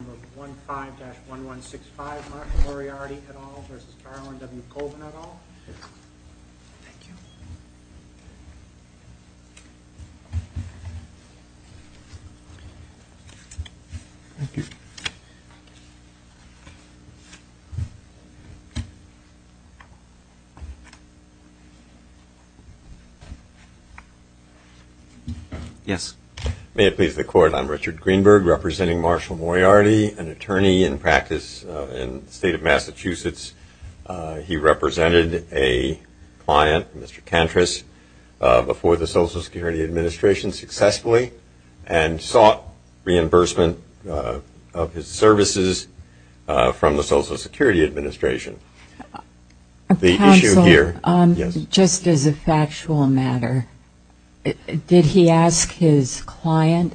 Number 15-1165 Marshall Moriarty et al. v. Darwin W. Colvin et al. Thank you. Yes. May it please the Court, I'm Richard Greenberg representing Marshall Moriarty, an attorney in practice in the state of Massachusetts. He represented a client, Mr. Kantris, before the Social Security Administration successfully and sought reimbursement of his services from the Social Security Administration. The issue here- His client,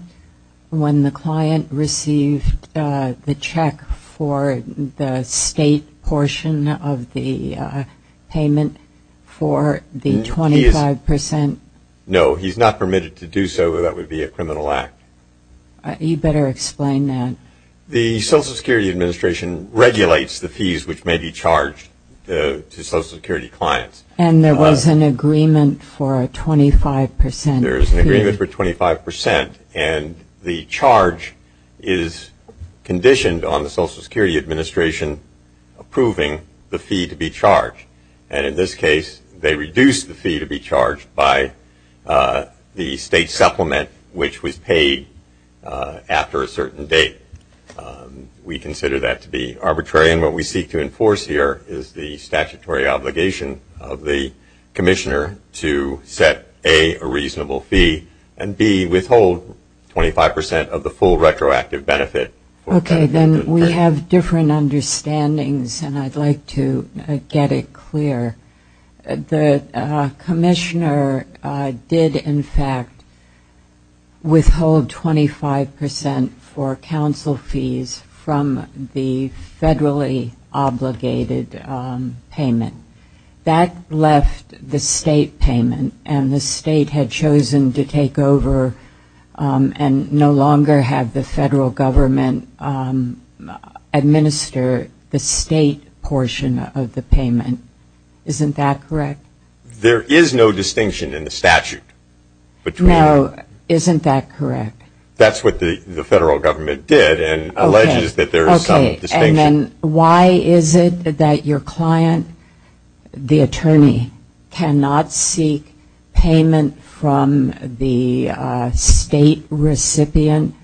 when the client received the check for the state portion of the payment for the 25 percent- No, he's not permitted to do so. That would be a criminal act. You better explain that. The Social Security Administration regulates the fees which may be charged to Social Security clients. And there was an agreement for a 25 percent fee? There is an agreement for 25 percent, and the charge is conditioned on the Social Security Administration approving the fee to be charged. And in this case, they reduced the fee to be charged by the state supplement which was paid after a certain date. We consider that to be arbitrary, and what we seek to enforce here is the statutory obligation of the commissioner to set, A, a reasonable fee, and B, withhold 25 percent of the full retroactive benefit- Okay, then we have different understandings, and I'd like to get it clear. The commissioner did, in fact, withhold 25 percent for counsel fees from the federally obligated payment. That left the state payment, and the state had chosen to take over and no longer have the federal government administer the state portion of the payment. Isn't that correct? There is no distinction in the statute between- No, isn't that correct? That's what the federal government did and alleges that there is some distinction. Why is it that your client, the attorney, cannot seek payment from the state recipient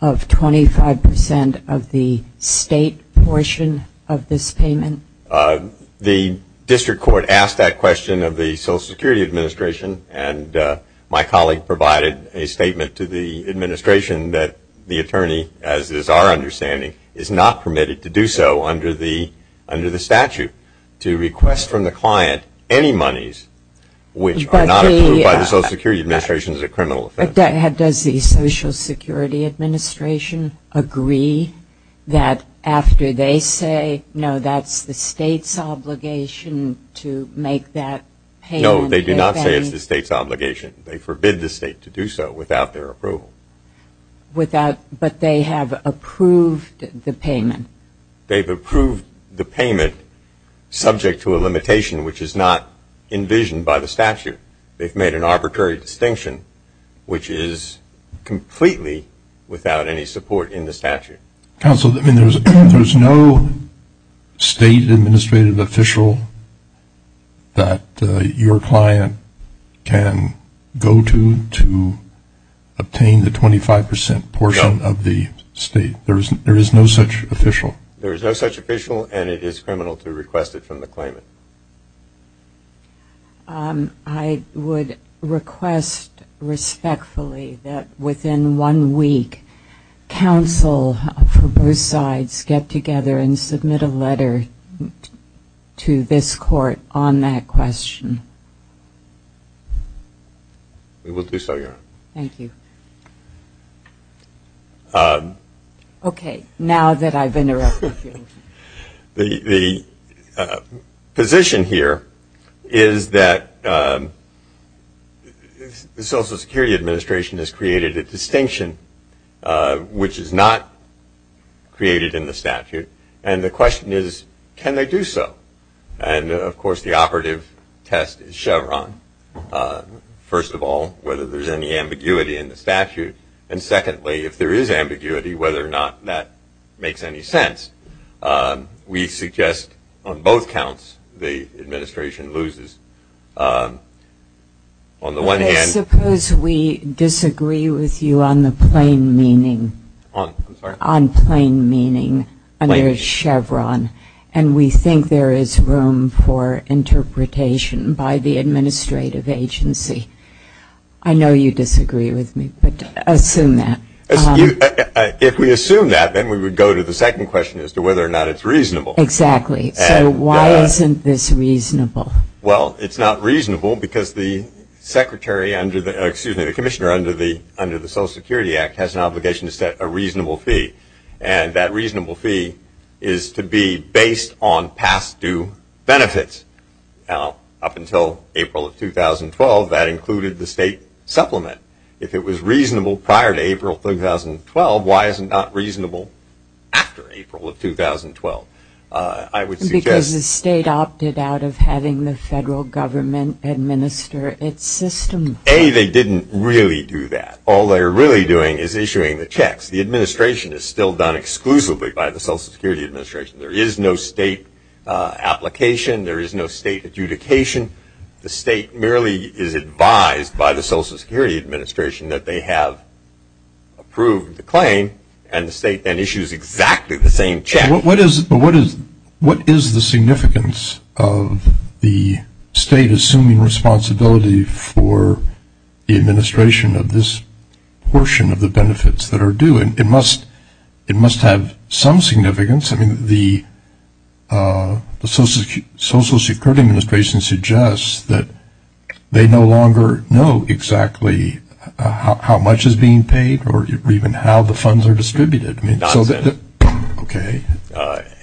of 25 percent of the state portion of this payment? The district court asked that question of the Social Security Administration, and my colleague provided a statement to the administration that the attorney, as is our understanding, is not permitted to do so under the statute. To request from the client any monies which are not approved by the Social Security Administration is a criminal offense. Does the Social Security Administration agree that after they say, no, that's the state's obligation to make that payment- No, they do not say it's the state's obligation. They forbid the state to do so without their approval. Without, but they have approved the payment. They've approved the payment subject to a limitation which is not envisioned by the statute. They've made an arbitrary distinction which is completely without any support in the statute. Counsel, I mean, there's no state administrative official that your client can go to to obtain the 25 percent portion of the state. There is no such official. There is no such official, and it is criminal to request it from the claimant. I would request respectfully that within one week, counsel for both sides get together and submit a letter to this court on that question. We will do so, Your Honor. Thank you. Okay, now that I've interrupted you. The position here is that the Social Security Administration has created a distinction which is not created in the statute, and the question is, can they do so? And of course, the operative test is Chevron. First of all, whether there's any ambiguity in the statute, and secondly, if there is ambiguity, whether or not that makes any sense. We suggest on both counts, the administration loses. On the one hand- Suppose we disagree with you on the plain meaning, on plain meaning under Chevron, and we think there is room for interpretation by the administrative agency. I know you disagree with me, but assume that. If we assume that, then we would go to the second question as to whether or not it's reasonable. Exactly. So why isn't this reasonable? Well, it's not reasonable because the secretary under the- excuse me, the commissioner under the Social Security Act has an obligation to set a reasonable fee, and that reasonable fee is to be based on past due benefits. Now, up until April of 2012, that included the state supplement. If it was reasonable prior to April of 2012, why is it not reasonable after April of 2012? I would suggest- Because the state opted out of having the federal government administer its system. A, they didn't really do that. All they're really doing is issuing the checks. The administration is still done exclusively by the Social Security Administration. There is no state application. There is no state adjudication. The state merely is advised by the Social Security Administration that they have approved the claim, and the state then issues exactly the same check. What is the significance of the state assuming responsibility for the administration of this portion of the benefits that are due? It must have some significance. I mean, the Social Security Administration suggests that they no longer know exactly how much is being paid or even how the funds are distributed. Nonsense. Okay.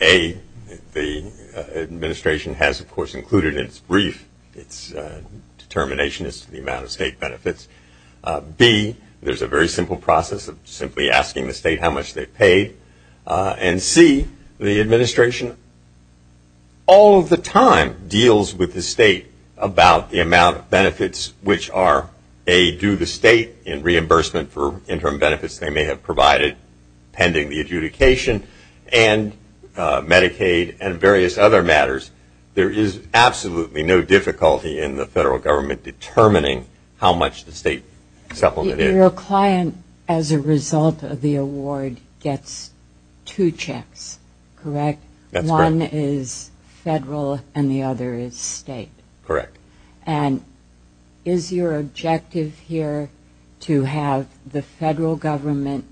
A, the administration has, of course, included in its brief its determination as to the amount of state benefits. B, there's a very simple process of simply asking the state how much they paid. And C, the administration all of the time deals with the state about the amount of benefits which are, A, due the state in reimbursement for interim benefits they may have provided pending the adjudication, and Medicaid and various other matters. There is absolutely no difficulty in the federal government determining how much the state supplement is. Your client, as a result of the award, gets two checks, correct? That's correct. One is federal and the other is state. Correct. And is your objective here to have the federal government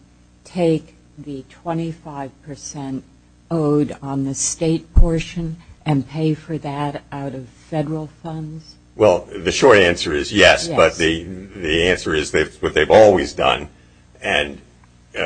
take the 25 percent owed on the state portion and pay for that out of federal funds? Well, the short answer is yes, but the answer is that's what they've always done. And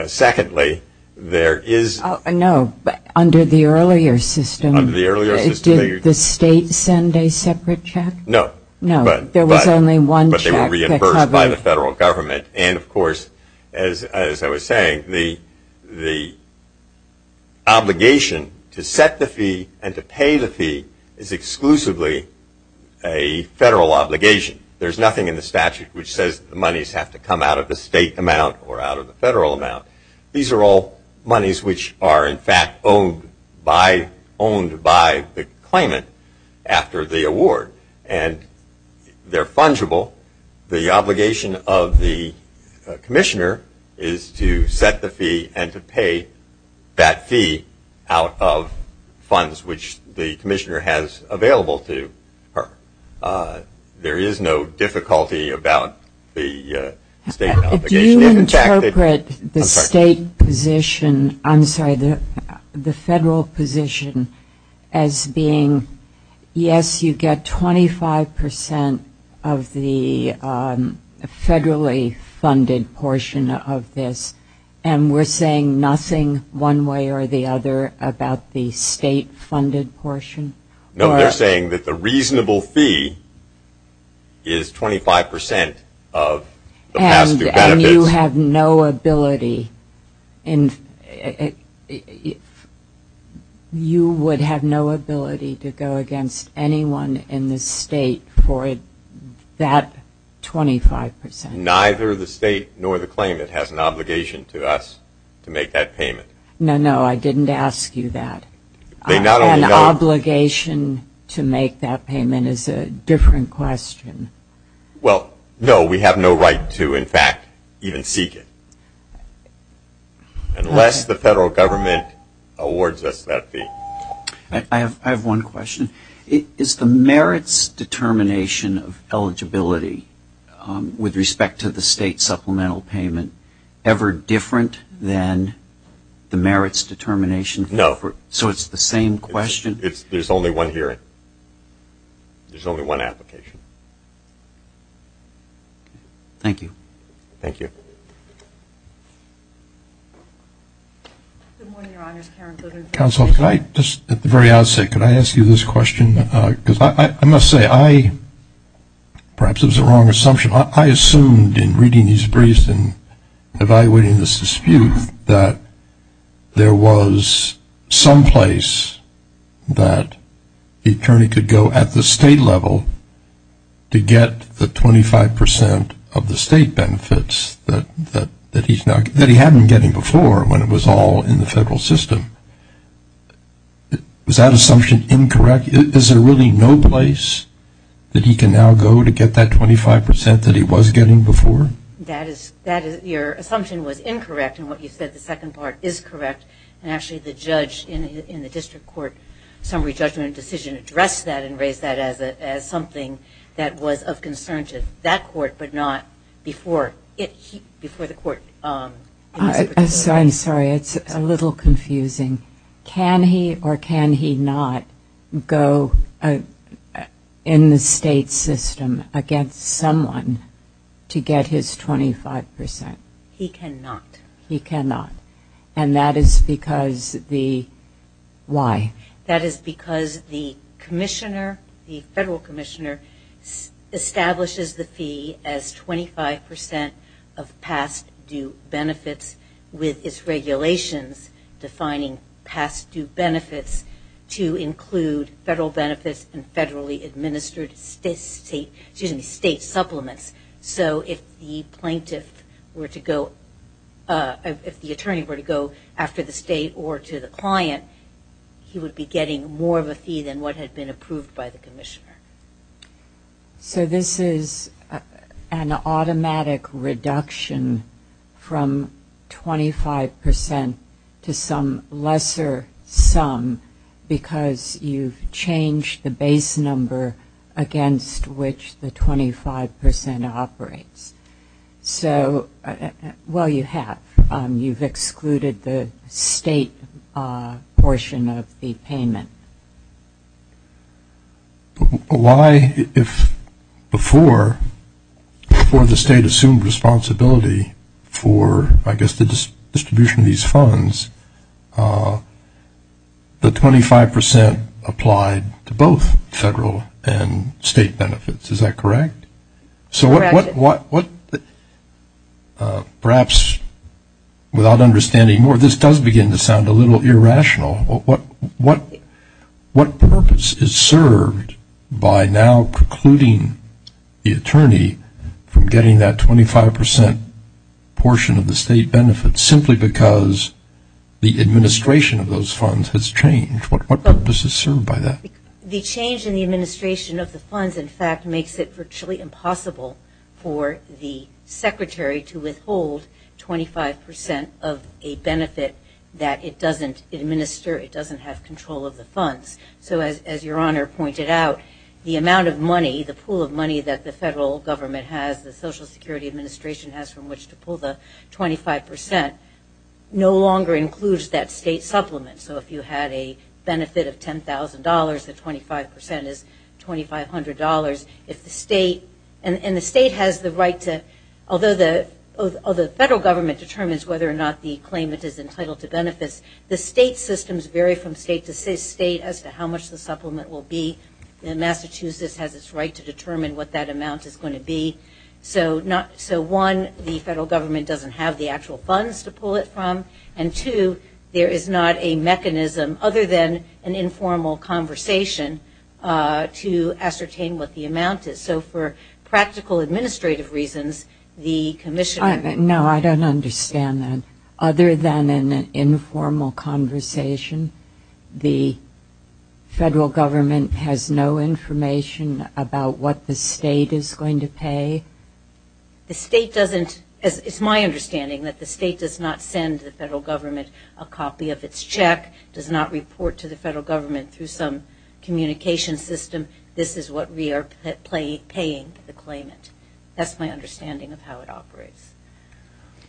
secondly, there is – No, but under the earlier system, did the state send a separate check? No. No. There was only one check. But they were reimbursed by the federal government. And, of course, as I was saying, the obligation to set the fee and to pay the fee is exclusively a federal obligation. There's nothing in the statute which says the monies have to come out of the state amount or out of the federal amount. These are all monies which are, in fact, owned by the claimant after the award. And they're fungible. The obligation of the commissioner is to set the fee and to pay that fee out of funds which the commissioner has available to her. There is no difficulty about the state obligation. Do you interpret the state position – I'm sorry, the federal position as being, yes, you get 25 percent of the federally funded portion of this, and we're saying nothing one way or the other about the state-funded portion? No, they're saying that the reasonable fee is 25 percent of the past two benefits. And you have no ability – you would have no ability to go against anyone in the state for that 25 percent? Neither the state nor the claimant has an obligation to us to make that payment. No, no, I didn't ask you that. An obligation to make that payment is a different question. Well, no, we have no right to, in fact, even seek it unless the federal government awards us that fee. I have one question. Is the merits determination of eligibility with respect to the state supplemental payment ever different than the merits determination? No. So it's the same question? There's only one hearing. There's only one application. Thank you. Thank you. Good morning, Your Honors. Karen Glitter. Counsel, could I just, at the very outset, could I ask you this question? Because I must say, I – perhaps it was a wrong assumption – I assumed in reading these briefs and evaluating this dispute that there was some place that the attorney could go at the state level to get the 25 percent of the state benefits that he's now – that he had been getting before when it was all in the federal system. Is that assumption incorrect? Is there really no place that he can now go to get that 25 percent that he was getting before? That is – that is – your assumption was incorrect in what you said, the second part is correct. And actually, the judge in the district court summary judgment decision addressed that and raised that as something that was of concern to that court, but not before it – before the court – I'm sorry, it's a little confusing. Can he or can he not go in the state system against someone to get his 25 percent? He cannot. He cannot. And that is because the – why? That is because the commissioner, the federal commissioner, establishes the fee as 25 percent of past due benefits with its regulations defining past due benefits to include federal benefits and federally administered state – excuse me, state supplements. So if the plaintiff were to go – if the attorney were to go after the state or to the client, he would be getting more of a fee than what had been approved by the commissioner. So this is an automatic reduction from 25 percent to some lesser sum because you've changed the base number against which the 25 percent operates. So – well, you have. You've excluded the state portion of the payment. Why, if before, before the state assumed responsibility for, I guess, the distribution of these funds, the 25 percent applied to both federal and state benefits, is that correct? So what – perhaps without understanding more, this does begin to sound a little irrational. What purpose is served by now precluding the attorney from getting that 25 percent portion of the state benefits simply because the administration of those funds has changed? What purpose is served by that? The change in the administration of the funds, in fact, makes it virtually impossible for the secretary to withhold 25 percent of a benefit that it doesn't administer, it doesn't have control of the funds. So as Your Honor pointed out, the amount of money, the pool of money that the federal government has, the Social Security Administration has from which to pull the 25 percent no longer includes that state supplement. So if you had a benefit of $10,000, the 25 percent is $2,500. If the state – and the state has the right to – although the federal government determines whether or not the claimant is entitled to benefits, the state systems vary from state to state as to how much the supplement will be. Massachusetts has its right to determine what that amount is going to be. So one, the federal government doesn't have the actual funds to pull it from, and two, there is not a mechanism other than an informal conversation to ascertain what the amount is. So for practical administrative reasons, the commissioner – No, I don't understand that. Other than an informal conversation, the federal government has no information about what the state is going to pay? The state doesn't – it's my understanding that the state does not send the federal government a copy of its check, does not report to the federal government through some communication system. This is what we are paying the claimant. That's my understanding of how it operates.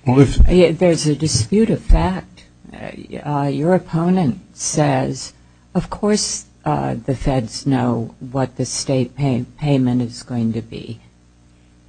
There's a dispute of fact. Your opponent says, of course the feds know what the state payment is going to be.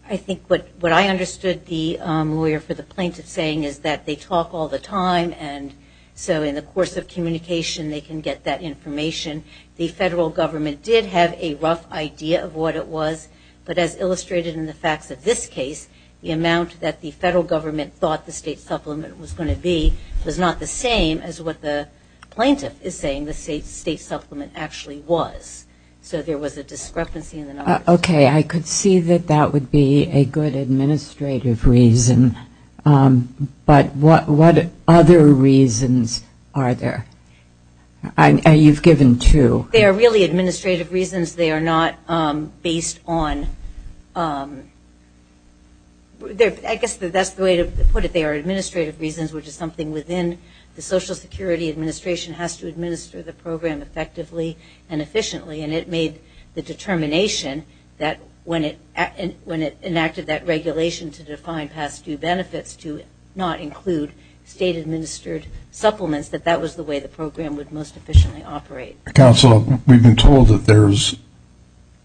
I think what I understood the lawyer for the plaintiff saying is that they talk all the time, and so in the course of communication they can get that information. The federal government did have a rough idea of what it was, but as illustrated in the facts of this case, the amount that the federal government thought the state supplement was going to be was not the same as what the plaintiff is saying the state supplement actually was. So there was a discrepancy in the numbers. Okay, I could see that that would be a good administrative reason. But what other reasons are there? You've given two. They are really administrative reasons. They are not based on – I guess that's the way to put it. They are administrative reasons, which is something within the Social Security Administration has to administer the program effectively and efficiently, and it made the determination that when it enacted that regulation to define past due benefits to not include state administered supplements, that that was the way the program would most efficiently operate. Counsel, we've been told that there's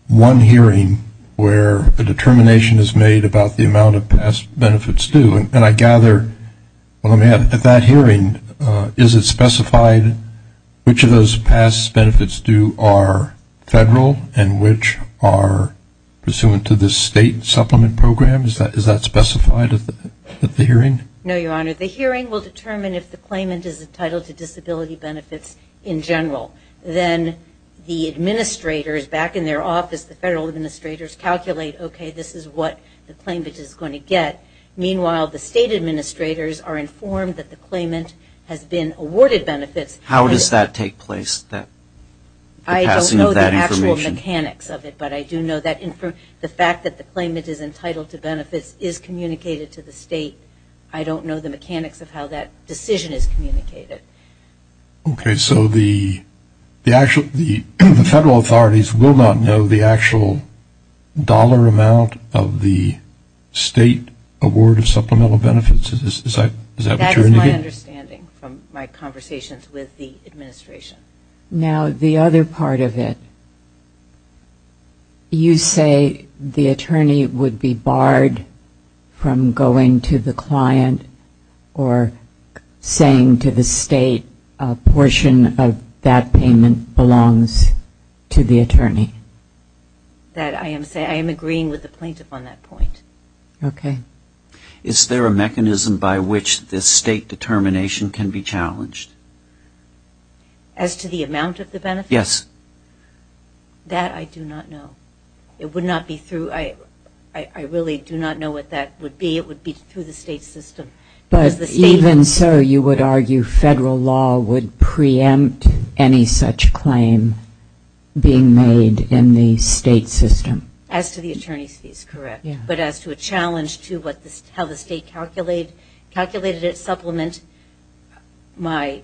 one hearing where a determination is made about the amount of past benefits due, and I gather at that hearing is it specified which of those past benefits due are federal and which are pursuant to the state supplement program? Is that specified at the hearing? No, Your Honor. The hearing will determine if the claimant is entitled to disability benefits in general. Then the administrators back in their office, the federal administrators calculate, okay, this is what the claimant is going to get. Meanwhile, the state administrators are informed that the claimant has been awarded benefits. How does that take place? I don't know the actual mechanics of it, but I do know that the fact that the claimant is entitled to benefits is communicated to the state. I don't know the mechanics of how that decision is communicated. Okay, so the federal authorities will not know the actual dollar amount of the state award of supplemental benefits? Is that what you're indicating? That's my understanding from my conversations with the administration. Now the other part of it, you say the attorney would be barred from going to the client or saying to the state a portion of that payment belongs to the attorney? That I am saying, I am agreeing with the plaintiff on that point. Okay. Is there a mechanism by which this state determination can be challenged? As to the amount of the benefits? Yes. That I do not know. It would not be through, I really do not know what that would be. It would be through the state system. But even so, you would argue federal law would preempt any such claim being made in the state system? As to the attorney's fees, correct. But as to a challenge to how the state calculated its supplement, my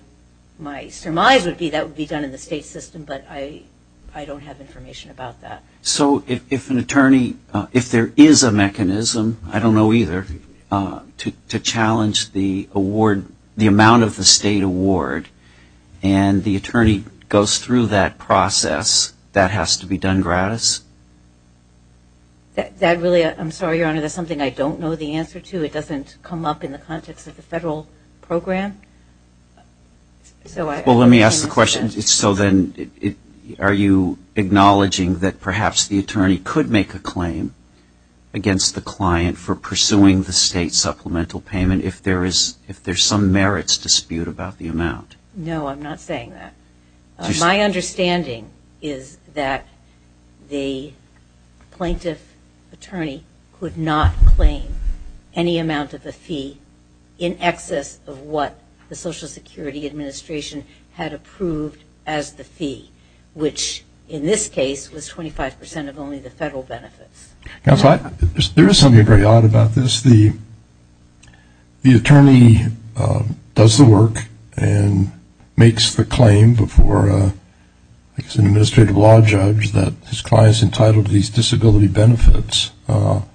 surmise would be that would be done in the state system, but I don't have information about that. So if an attorney, if there is a mechanism, I don't know either, to challenge the amount of the state award and the attorney goes through that process, that has to be done gratis? That really, I'm sorry Your Honor, that's something I don't know the answer to. It doesn't come up in the context of the federal program. So let me ask the question, so then are you acknowledging that perhaps the attorney could make a claim against the client for pursuing the state supplemental payment if there is, if there's some merits dispute about the amount? No, I'm not saying that. My understanding is that the plaintiff attorney could not claim any amount of the fee in excess of what the Social Security Administration had approved as the fee, which in this case was 25 percent of only the federal benefits. There is something very odd about this. The attorney does the work and makes the claim before an administrative law judge that his client is entitled to these disability benefits. And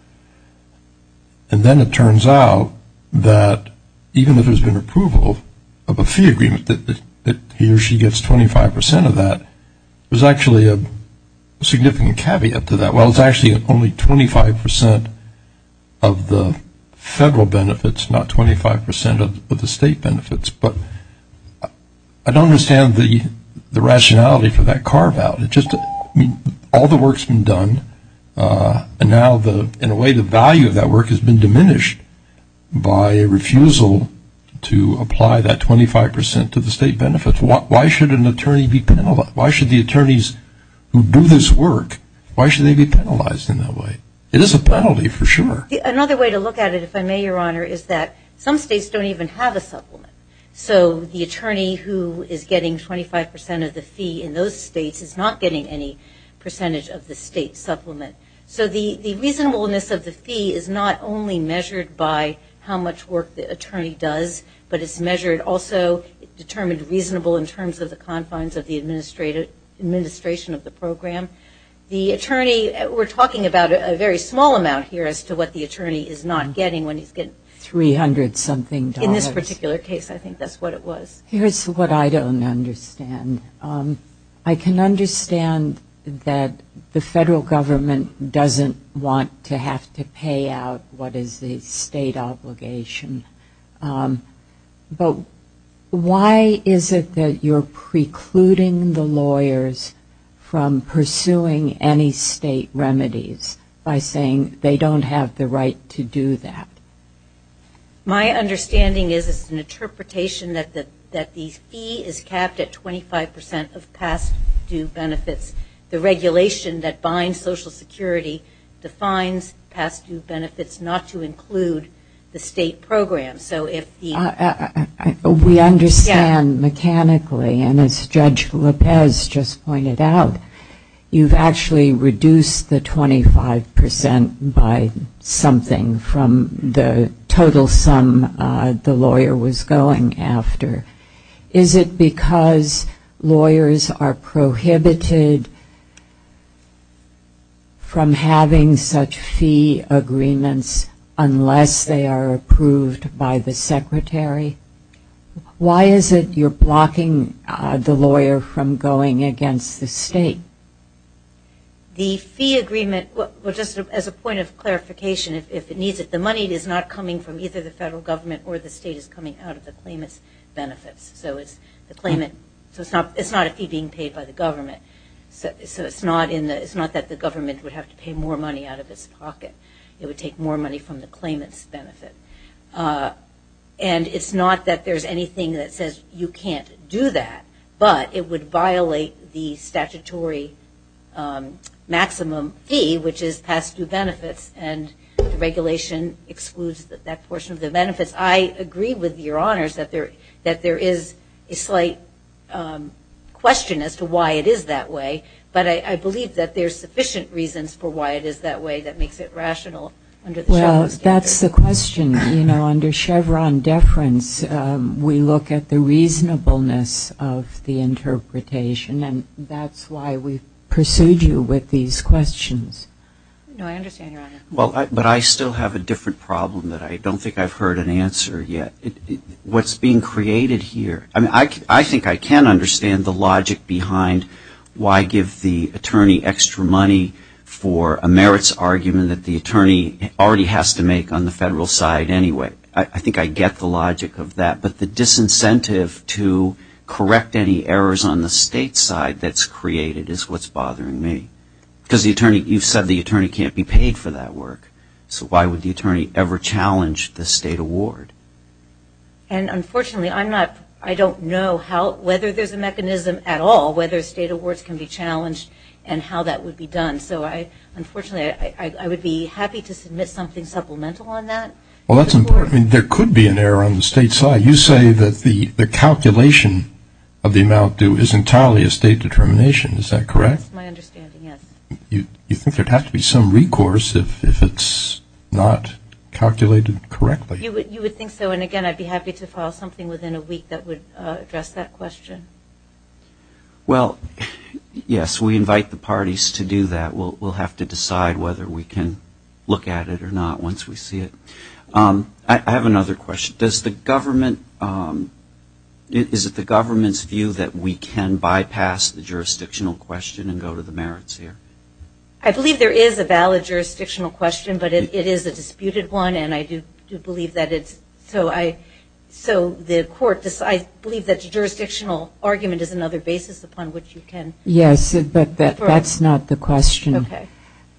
then it turns out that even if there's been approval of a fee agreement that he or she gets 25 percent of that, there's actually a significant caveat to that. Well, it's actually only 25 percent of the federal benefits, not 25 percent of the state benefits. But I don't understand the rationality for that carve out. All the work's been done, and now in a way the value of that work has been diminished by a refusal to apply that 25 percent to the state benefits. Why should an attorney be penalized? Why should the attorneys who do this work, why should they be penalized in that way? It is a penalty for sure. Another way to look at it, if I may, Your Honor, is that some states don't even have a supplement. So the attorney who is getting 25 percent of the fee in those states is not getting any percentage of the state supplement. So the reasonableness of the fee is not only measured by how much work the attorney does, but it's measured also, determined reasonable in terms of the confines of the administration of the program. The attorney, we're talking about a very small amount here as to what the attorney is not getting when he's getting $300-something. In this particular case, I think that's what it was. Here's what I don't understand. I can understand that the federal government doesn't want to have to pay out what is the state obligation. But why is it that you're precluding the lawyers from pursuing any state remedies by saying they don't have the right to do that? My understanding is it's an interpretation that the fee is capped at 25 percent of past due benefits. The regulation that binds Social Security defines past due benefits not to include the state program. We understand mechanically, and as Judge Lopez just pointed out, you've actually reduced the 25 percent by something from the total sum the lawyer was going after. Is it because lawyers are prohibited from having such fee agreements unless they are approved by the secretary? Why is it you're blocking the lawyer from going against the state? The fee agreement, just as a point of clarification, if it needs it, the money is not coming from either the federal government or the state. It's coming out of the claimant's benefits. So it's not a fee being paid by the government. It's not that the government would have to take more money out of its pocket. It would take more money from the claimant's benefit. And it's not that there's anything that says you can't do that, but it would violate the statutory maximum fee, which is past due benefits, and the regulation excludes that portion of the benefits. I agree with Your Honors that there is a slight question as to why it is that way, but I believe that there's sufficient reasons for why it is that way that makes it rational under the Chevron statute. Well, that's the question. You know, under Chevron deference, we look at the reasonableness of the interpretation, and that's why we pursued you with these questions. But I still have a different problem that I don't think I've heard an answer yet. What's being created here, I mean, I think I can understand the logic behind why give the attorney extra money for a merits argument that the attorney already has to make on the federal side anyway. I think I get the logic of that, but the disincentive to correct any errors on the state side that's created is what's bothering me. Because you've said the attorney can't be paid for that work, so why would the attorney ever challenge the state award? And unfortunately, I don't know whether there's a mechanism at all whether state awards can be challenged and how that would be done. So I, unfortunately, I would be happy to submit something supplemental on that. Well, that's important. I mean, there could be an error on the state side. You say that the calculation of the amount due is entirely a state determination. Is that correct? That's my understanding, yes. You think there'd have to be some recourse if it's not calculated correctly? You would think so, and again, I'd be happy to file something within a week that would address that question. Well, yes, we invite the parties to do that. We'll have to decide whether we can look at it or not once we see it. I have another question. Does the government, is it the government's view that we can bypass the jurisdictional question and go to the merits here? I believe there is a valid jurisdictional question, but it is a disputed one, and I do believe that it's, so I, so the court decides, I believe that the jurisdictional argument is another basis upon which you can. Yes, but that's not the question.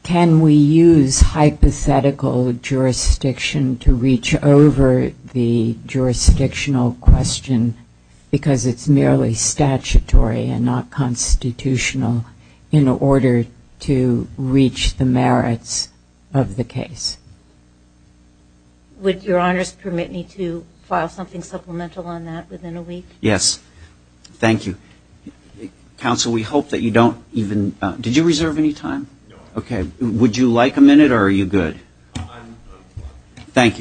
Can we use hypothetical jurisdiction to reach over the jurisdictional question because it's merely statutory and not constitutional in order to reach the merits of the case? Would Your Honors permit me to file something supplemental on that within a week? Yes. Thank you. Counsel, we hope that you don't even, did you reserve any time? No. Okay. Would you like a minute or are you good? Thank you.